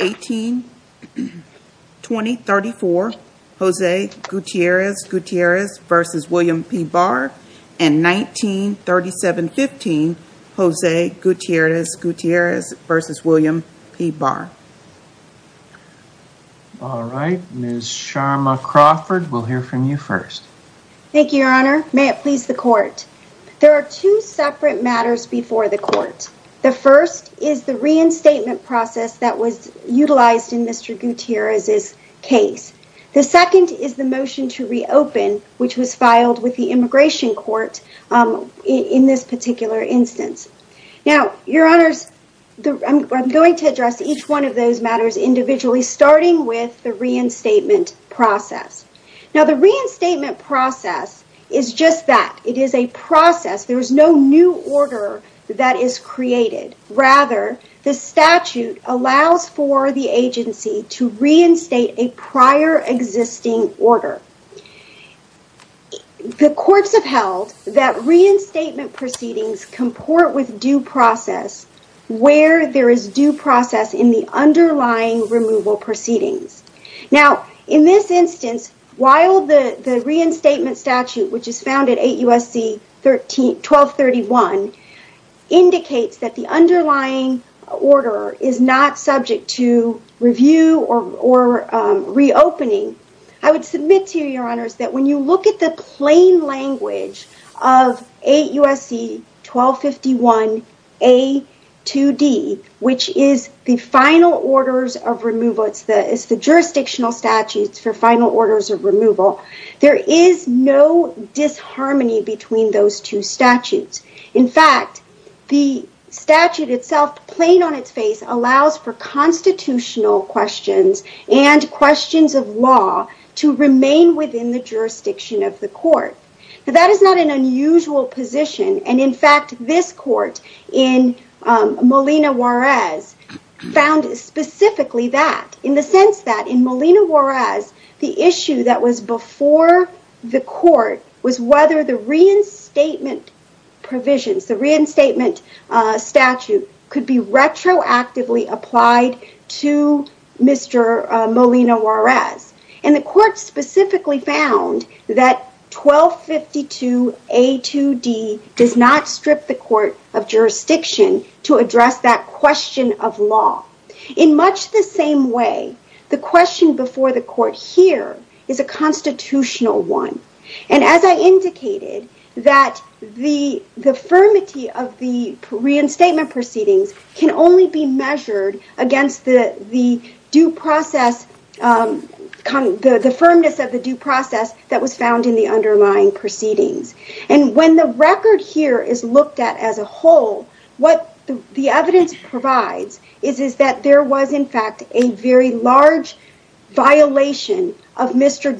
18-20-34 Jose Gutierrez-Gutierrez versus William P. Barr and 19-37-15 Jose Gutierrez-Gutierrez versus William P. Barr. All right, Ms. Sharma Crawford, we'll hear from you first. Thank you, your honor. May it please the court. There are two separate matters before the court. The first is the reinstatement process that was utilized in Mr. Gutierrez's case. The second is the motion to reopen, which was filed with the immigration court in this particular instance. Now, your honors, I'm going to address each one of those matters individually starting with the reinstatement process. Now, the reinstatement process is just that. It is a process. There is no new order that is created. Rather, the statute allows for the agency to reinstate a prior existing order. The courts have held that reinstatement proceedings comport with due process where there is due process in the underlying removal proceedings. Now, in this instance, while the reinstatement statute, which is found at 8 U.S.C. 1231, indicates that the underlying order is not subject to review or reopening, I would submit to you, your honors, that when you look at the plain language of 8 U.S.C. 1251 A2D, which is the final orders of removal, it's the final orders of removal, there is no disharmony between those two statutes. In fact, the statute itself, plain on its face, allows for constitutional questions and questions of law to remain within the jurisdiction of the court. That is not an unusual position. In fact, this court in Molina Juarez, the issue that was before the court was whether the reinstatement provisions, the reinstatement statute, could be retroactively applied to Mr. Molina Juarez. The court specifically found that 1252 A2D does not strip the court of jurisdiction to address that question of law. In much the same way, the question before the court here is a constitutional one. As I indicated, that the firmity of the reinstatement proceedings can only be measured against the firmness of the due process that was found in the underlying proceedings. When the record here is looked at as a whole, what the evidence provides is that there was, in fact, a very large violation of Mr.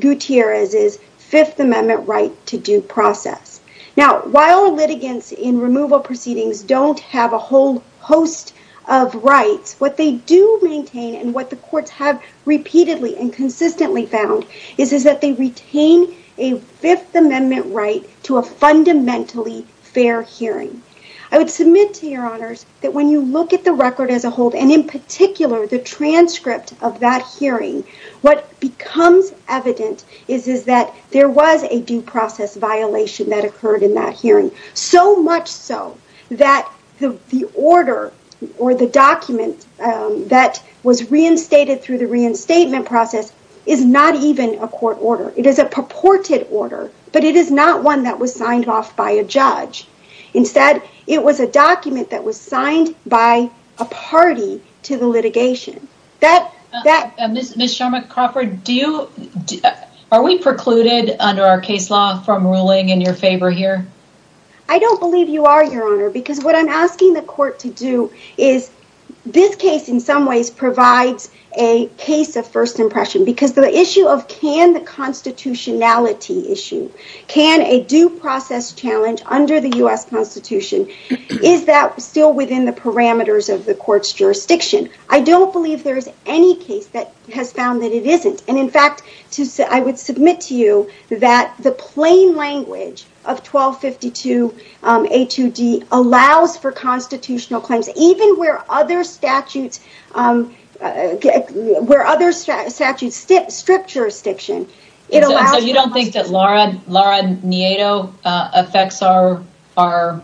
Gutierrez's Fifth Amendment right to due process. While litigants in removal proceedings don't have a whole host of rights, what they do maintain and the courts have repeatedly and consistently found is that they retain a Fifth Amendment right to a fundamentally fair hearing. I would submit to your honors that when you look at the record as a whole and in particular the transcript of that hearing, what becomes evident is that there was a due process violation that occurred in that hearing. So much so that the order or the document that was reinstated through the reinstatement process is not even a court order. It is a purported order, but it is not one that was signed off by a judge. Instead, it was a document that was signed by a party to the litigation. Ms. Sharma Crawford, are we precluded under our case law from ruling in your favor here? I don't believe you are, your honor, because what I'm asking the court to do is, this case in some ways provides a case of first impression because the issue of can the constitutionality issue, can a due process challenge under the U.S. Constitution, is that still within the parameters of the court's jurisdiction? I don't believe there is any case that has found that it isn't. In fact, I would submit to you that the plain language of 1252 A2D allows for where other statutes strip jurisdiction. So you don't think that Laura Nieto affects our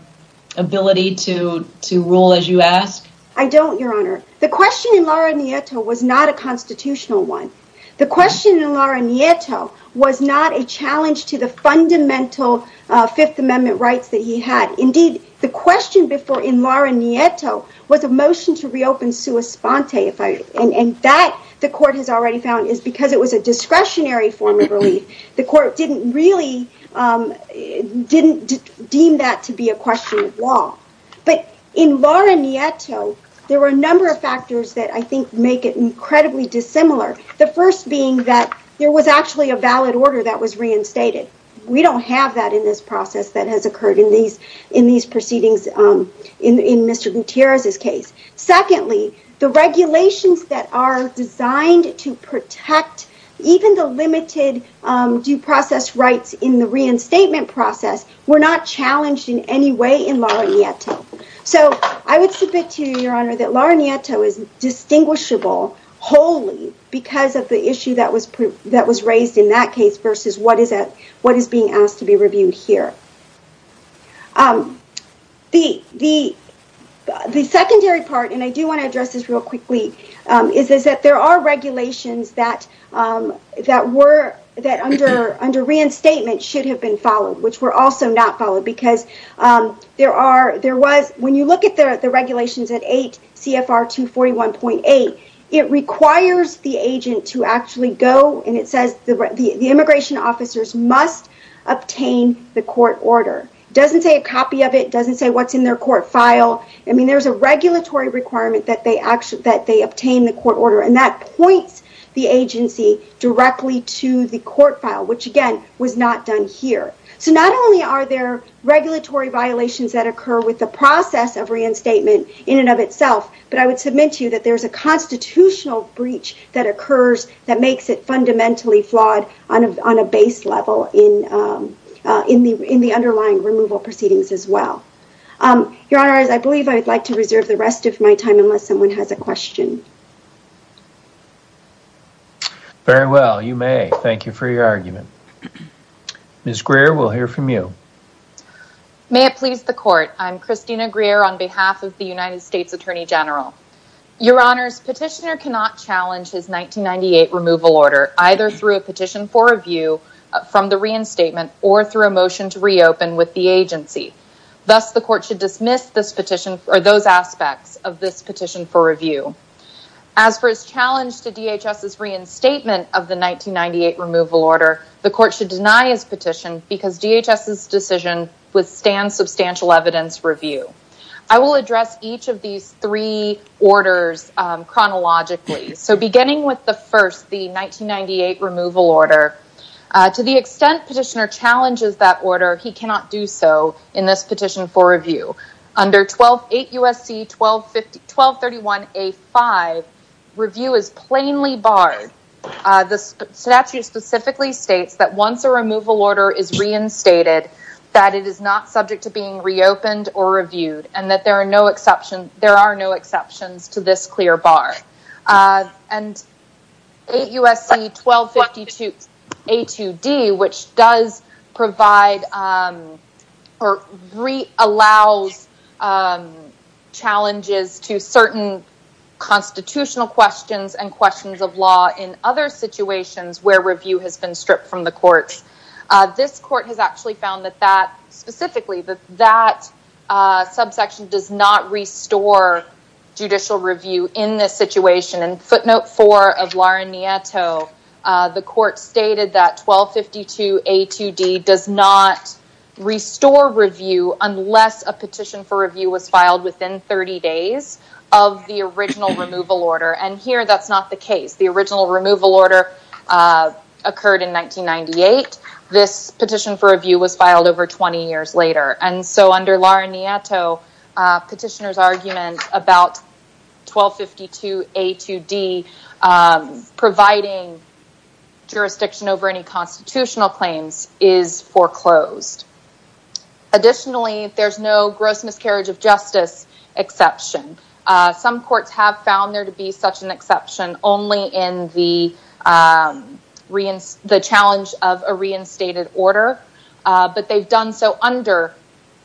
ability to rule as you ask? I don't, your honor. The question in Laura Nieto was not a constitutional one. The question in Laura Nieto was not a challenge to the fundamental Fifth Amendment rights that he had. Indeed, the question before in Laura Nieto was a motion to reopen sua sponte, if I, and that the court has already found is because it was a discretionary form of relief. The court didn't really, didn't deem that to be a question of law. But in Laura Nieto, there were a number of factors that I think make it incredibly dissimilar. The first being that there was actually a valid order that was reinstated. We don't have that in this process that has occurred in these proceedings in Mr. Gutierrez's case. Secondly, the regulations that are designed to protect even the limited due process rights in the reinstatement process were not challenged in any way in Laura Nieto. So I would submit to you, your honor, that Laura Nieto is distinguishable wholly because of the issue that was raised in that case versus what is being asked to be reviewed here. The secondary part, and I do want to address this real quickly, is that there are regulations that under reinstatement should have been followed, which were also not followed because there was, when you look at the regulations at 8 CFR 241.8, it requires the agent to actually go and it says the immigration officers must obtain the court order. Doesn't say a copy of it, doesn't say what's in their court file. I mean, there's a regulatory requirement that they obtain the court order and that points the agency directly to the court file, which again was not done here. So not only are there regulatory violations that occur with the process of reinstatement in and of itself, but I would submit to you that there's a constitutional breach that occurs that makes it fundamentally flawed on a base level in the underlying removal proceedings as well. Your honor, I believe I would like to reserve the rest of my time unless someone has a question. Very well, you may. Thank you for your argument. Ms. Greer, we'll hear from you. May it please the court, I'm Christina Greer on behalf of the United Petitioner. Petitioner cannot challenge his 1998 removal order either through a petition for review from the reinstatement or through a motion to reopen with the agency. Thus, the court should dismiss this petition or those aspects of this petition for review. As for his challenge to DHS's reinstatement of the 1998 removal order, the court should deny his petition because DHS's withstand substantial evidence review. I will address each of these three orders chronologically. So beginning with the first, the 1998 removal order, to the extent petitioner challenges that order, he cannot do so in this petition for review. Under 8 U.S.C. 1231A5, review is plainly stated that it is not subject to being reopened or reviewed and there are no exceptions to this clear bar. And 8 U.S.C. 1252A2D, which does provide or allows challenges to certain constitutional questions and questions of law in other situations where review has been stripped from the courts, this court has actually found that specifically that that subsection does not restore judicial review in this situation. And footnote 4 of Lauren Nieto, the court stated that 1252A2D does not restore review unless a petition for review was filed within 30 days of the original removal order occurred in 1998. This petition for review was filed over 20 years later. And so under Lauren Nieto, petitioner's argument about 1252A2D providing jurisdiction over any constitutional claims is foreclosed. Additionally, there's no gross miscarriage of justice exception. Some courts have found there to be such an exception only in the challenge of a reinstated order, but they've done so under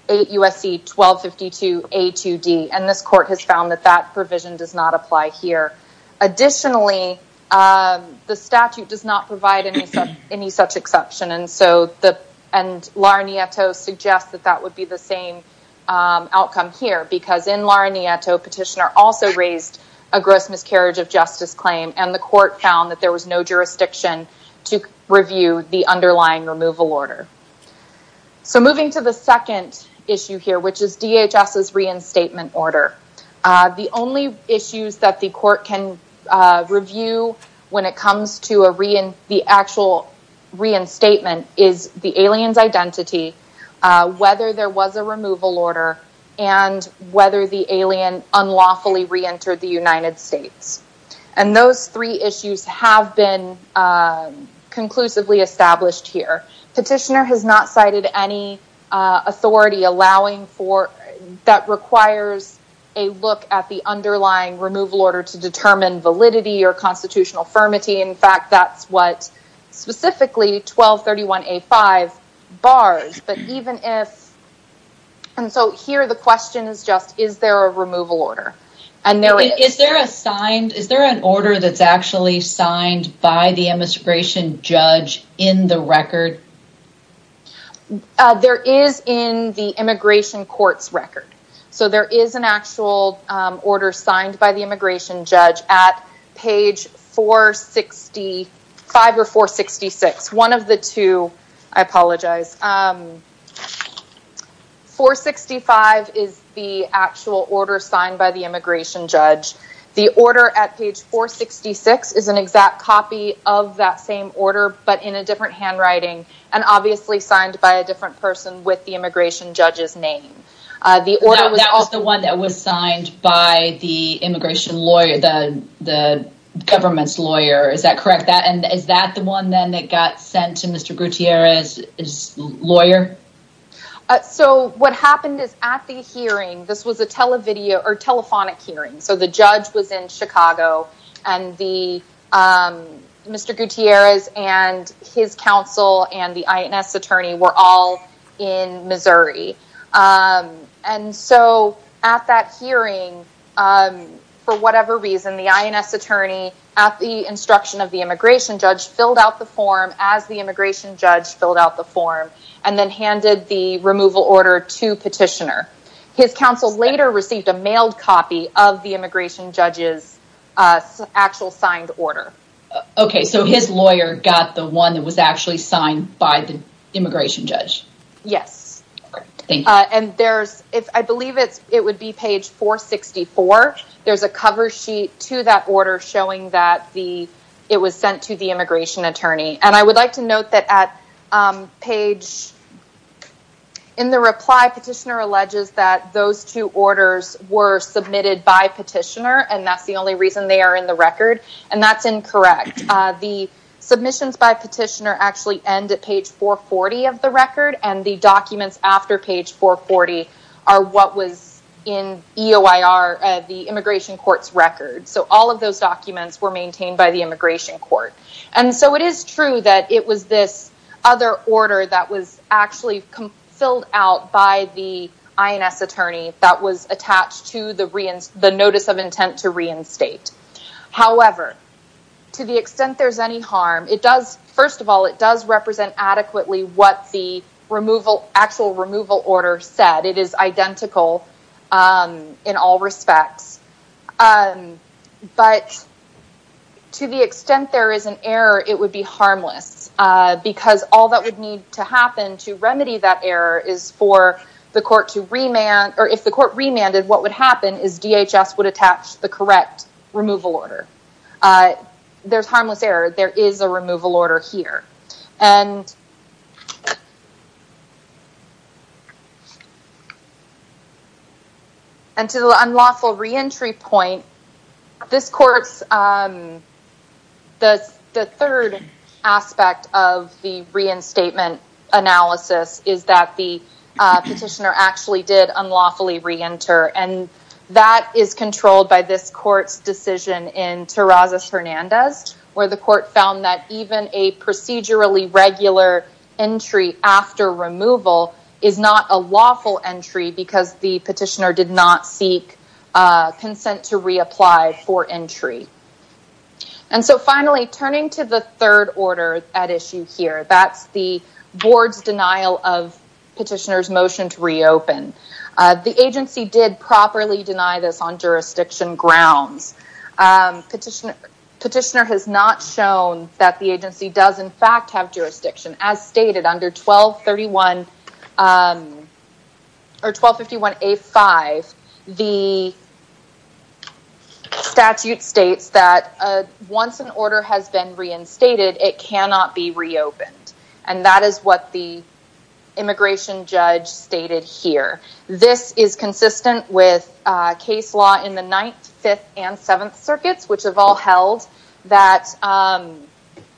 8 U.S.C. 1252A2D and this court has found that that provision does not apply here. Additionally, the statute does not provide any such exception and so the and Lauren Nieto suggests that that would be the same outcome here because in Lauren Nieto petitioner also raised a gross miscarriage of justice claim and the court found that there was no jurisdiction to review the underlying removal order. So moving to the second issue here, which is DHS's reinstatement order. The only issues that the court can review when it comes to the actual reinstatement is the alien's identity, whether there was a removal order, and whether the alien unlawfully reentered the United States. And those three issues have been conclusively established here. Petitioner has not cited any authority allowing for that requires a look at the underlying removal order to determine validity or constitutional firmity. In fact, that's what specifically 1231A5 bars, but even if And so here the question is just is there a removal order? Is there an order that's actually signed by the immigration judge in the record? There is in the immigration court's record. So there is an actual order signed by the immigration judge at page 465 or 466. One of the two, I apologize. 465 is the actual order signed by the immigration judge. The order at page 466 is an exact copy of that same order, but in a different handwriting and obviously signed by a different person with the immigration judge's name. That was the one that was signed by the immigration lawyer, the government's lawyer, is that correct? And is that the one then that got sent to Mr. Gutierrez's lawyer? So what happened is at the hearing, this was a telephonic hearing. So the judge was in Chicago and Mr. Gutierrez and his counsel and the INS attorney were all in Missouri. And so at that hearing, for whatever reason, the INS attorney at the instruction of the immigration judge filled out the form as the immigration judge filled out the form and then handed the removal order to petitioner. His counsel later received a mailed copy of the immigration judge's actual signed order. Okay. So his lawyer got the one that was actually signed by the immigration judge? Yes. And there's, I believe it would be page 464. There's a cover sheet to that order showing that it was sent to the immigration attorney. And I would like to note that at page... In the reply, petitioner alleges that those two orders were submitted by petitioner and that's the only reason they are in the record. And that's incorrect. The submissions by petitioner actually end at page 440 of the record and the documents after page 440 are what was in EOIR, the immigration court's record. So all of those documents were maintained by the immigration court. And so it is true that it was this other order that was actually filled out by the INS attorney that was attached to the notice of intent to reinstate. However, to the extent there's any harm, it does, first of all, it does represent adequately what the actual removal order said. It is identical in all respects. But to the extent there is an error, it would be harmless. Because all that would need to happen to remedy that error is for the court to remand or if the court remanded, what would happen is DHS would attach the correct removal order. There's harmless error. There is a removal order here. And to the unlawful reentry point, this court's ‑‑ the third aspect of the reinstatement analysis is that the petitioner actually did unlawfully reenter. And that is controlled by this court's decision in Terrazas Hernandez where the court found that even a procedurally regular entry after removal is not a lawful entry because the petitioner did not seek consent to reapply for entry. And so finally, turning to the third order at issue here, that's the board's denial of petitioner's motion to reopen. The agency did properly deny this on jurisdiction grounds. Petitioner has not shown that the agency does, in fact, have jurisdiction. As stated, under 1231 ‑‑ or 1251A5, the statute states that once an order has been reinstated, it cannot be reopened. And that is what the immigration judge stated here. This is consistent with case law in the 9th, 5th, and 7th circuits which have all held that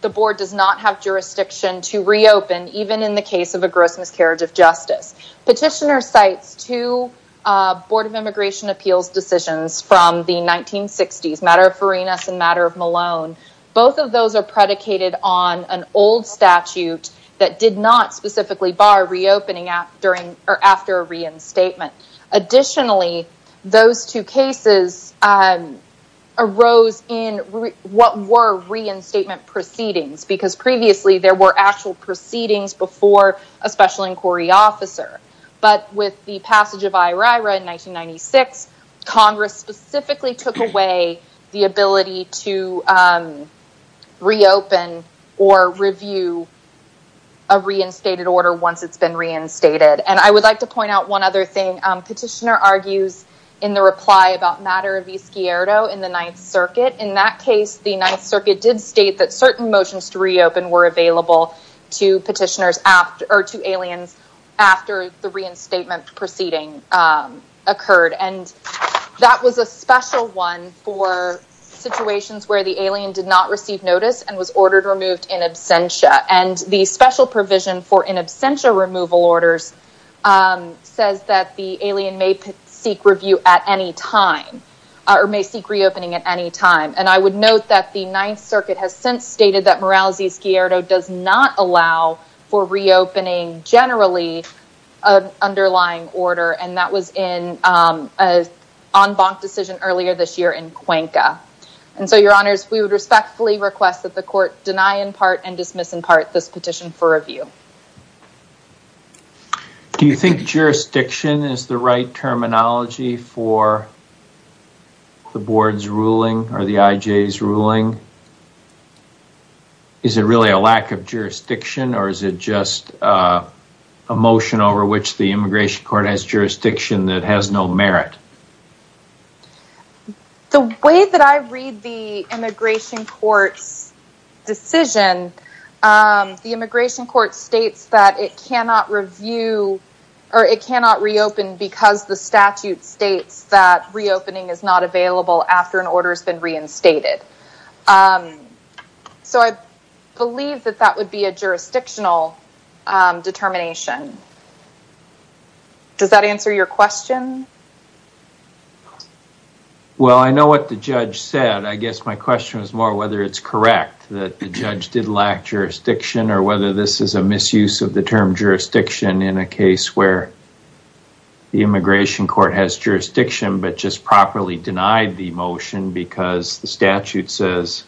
the board does not have jurisdiction to reopen even in the case of a gross miscarriage of justice. Petitioner cites two Board of Immigration Appeals decisions from the 1960s, matter of Farinas and matter of Malone. Both of those are predicated on an old statute that did not specifically bar reopening after a reinstatement. Additionally, those two cases arose in what were reinstatement proceedings. Because previously, there were actual proceedings before a special inquiry officer. But with the passage of IRIRA in 1996, Congress specifically took away the ability to reopen or review a reinstated order once it's been reinstated. I would like to point out one other thing. Petitioner argues in the reply about matter of Vizquierdo in the 9th circuit. In that case, the 9th circuit did state that certain motions to reopen were available to petitioners or to aliens after the reinstatement proceeding occurred. That was a special one for situations where the alien did not receive notice and was ordered in absentia removal orders says that the alien may seek review at any time or may seek reopening at any time. I would note that the 9th circuit has since stated that morale does not allow for reopening generally an underlying order and that was in an en banc decision earlier this year in Cuenca. We respectfully request that the court deny in part and dismiss in part this petition for review. Do you think jurisdiction is the right terminology for the board's ruling or the IJ's ruling? Is it really a lack of jurisdiction or is it just a motion over which the immigration court has jurisdiction that has no merit? The way that I read the immigration court states that it cannot review or it cannot reopen because the statute states that reopening is not available after an order has been reinstated. So, I believe that that would be a jurisdictional determination. Does that answer your question? Well, I know what the judge said. I guess my question was more whether it's correct that the judge did lack jurisdiction or whether this is a misuse of the term jurisdiction in a case where the immigration court has jurisdiction but just properly denied the motion because the statute says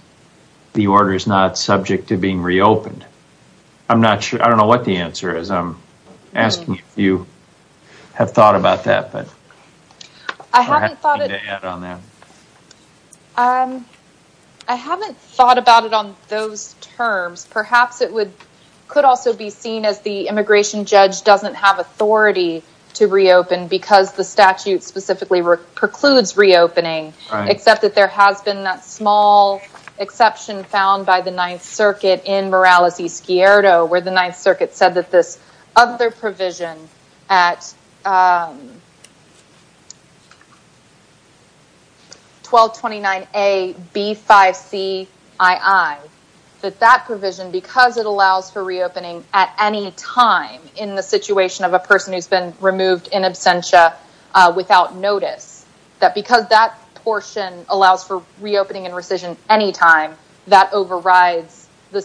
the order is not subject to being reopened. I'm not sure. I don't know what the answer is. I'm asking if you have thought about that. I haven't thought about it on those terms. Perhaps it could also be seen as the immigration judge doesn't have authority to reopen because the statute specifically precludes reopening, except that there has been that small exception found by the Ninth Circuit in Morales-Escuero where the Ninth Circuit said that this other provision at 1229AB5CII, that that provision, because it allows for reopening at any time in the situation of a person who has been removed in absentia without notice, that because that portion allows for reopening and rescission any time, that overrides the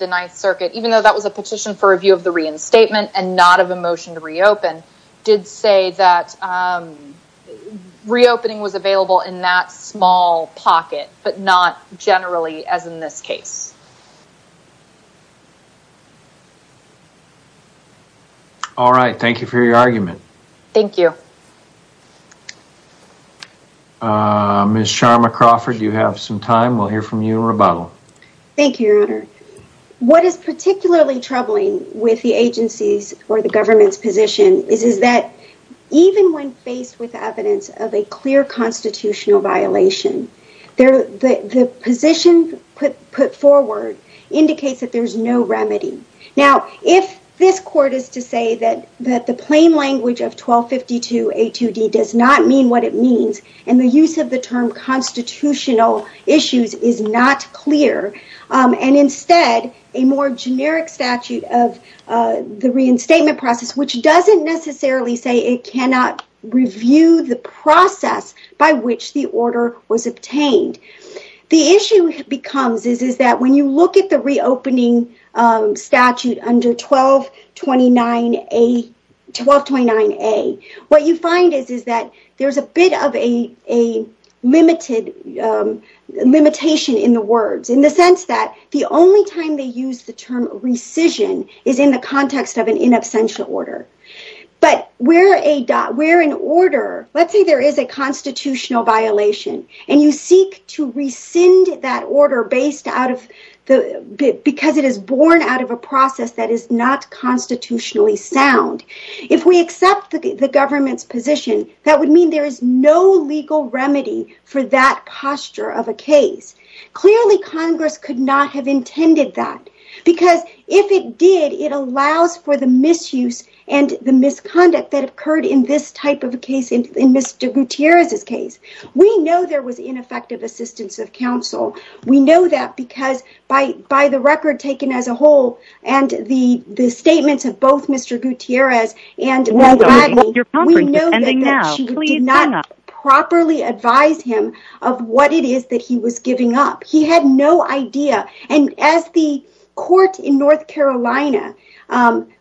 Ninth Circuit, even though that was a petition for review of the reinstatement and not of a motion to reopen, did say that reopening was available in that small pocket but not generally as in this case. All right. Thank you for your argument. Thank you. Ms. Sharma Crawford, you have some time. We'll hear from you in rebuttal. Thank you, Your Honor. What is particularly troubling with the agency's or the government's position is that even when faced with evidence of a clear constitutional violation, the position put forward indicates that there's no remedy. Now, if this court is to say that the plain language of 1252A2D does not mean what it means and the use of the term constitutional issues is not clear and instead a more generic statute of the reinstatement process, which doesn't necessarily say it cannot review the process by which the order was obtained. The issue becomes is that when you look at the reopening statute under 1229A, what you find is that there's a bit of a limitation in the words in the sense that the only time they use the term rescission is in the context of an in absentia order. But where an order, let's say there is a constitutional violation and you seek to rescind that order because it is born out of a process that is not constitutionally sound. If we accept the government's position, that would mean there is no legal remedy for that posture of a case. Clearly, Congress could not have intended that because if it did, it allows for the misuse and the misconduct that occurred in this type of a case in Mr. Gutierrez's case. We know there was ineffective assistance of counsel. We know that because by the record taken as a whole and the statements of both Mr. Gutierrez and Ms. Gladney, we know that she did not properly advise him of what it is that he was giving up. He had no idea. And as the court in North Carolina,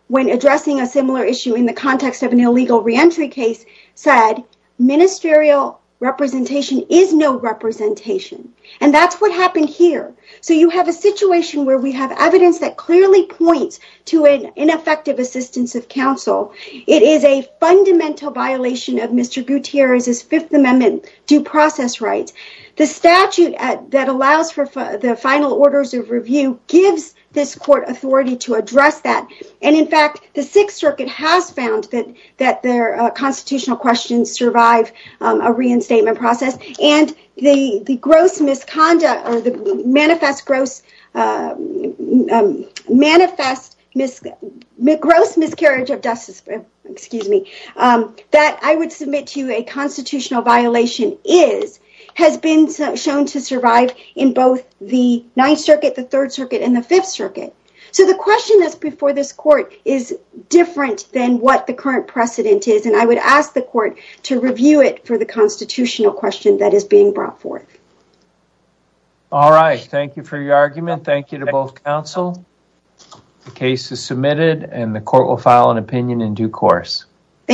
when addressing a similar issue in the context of an illegal reentry case, said ministerial representation is no representation. And that's what happened here. So you have a situation where we have evidence that clearly points to an ineffective assistance of counsel. It is a fundamental violation of Mr. Gutierrez's Fifth Amendment due process rights. The statute that allows for the final orders of review gives this court authority to address that. And in fact, the Sixth Circuit has found that their constitutional questions survive a reinstatement process and the gross misconduct or the manifest gross manifest gross miscarriage of justice, excuse me, that I would submit to you a constitutional violation is has been shown to survive in both the Ninth Circuit, the Third Circuit and the Fifth Circuit. So the question that's before this court is different than what the current precedent is. I would ask the court to review it for the constitutional question that is being brought forth. All right. Thank you for your argument. Thank you to both counsel. The case is submitted and the court will file an opinion in due course.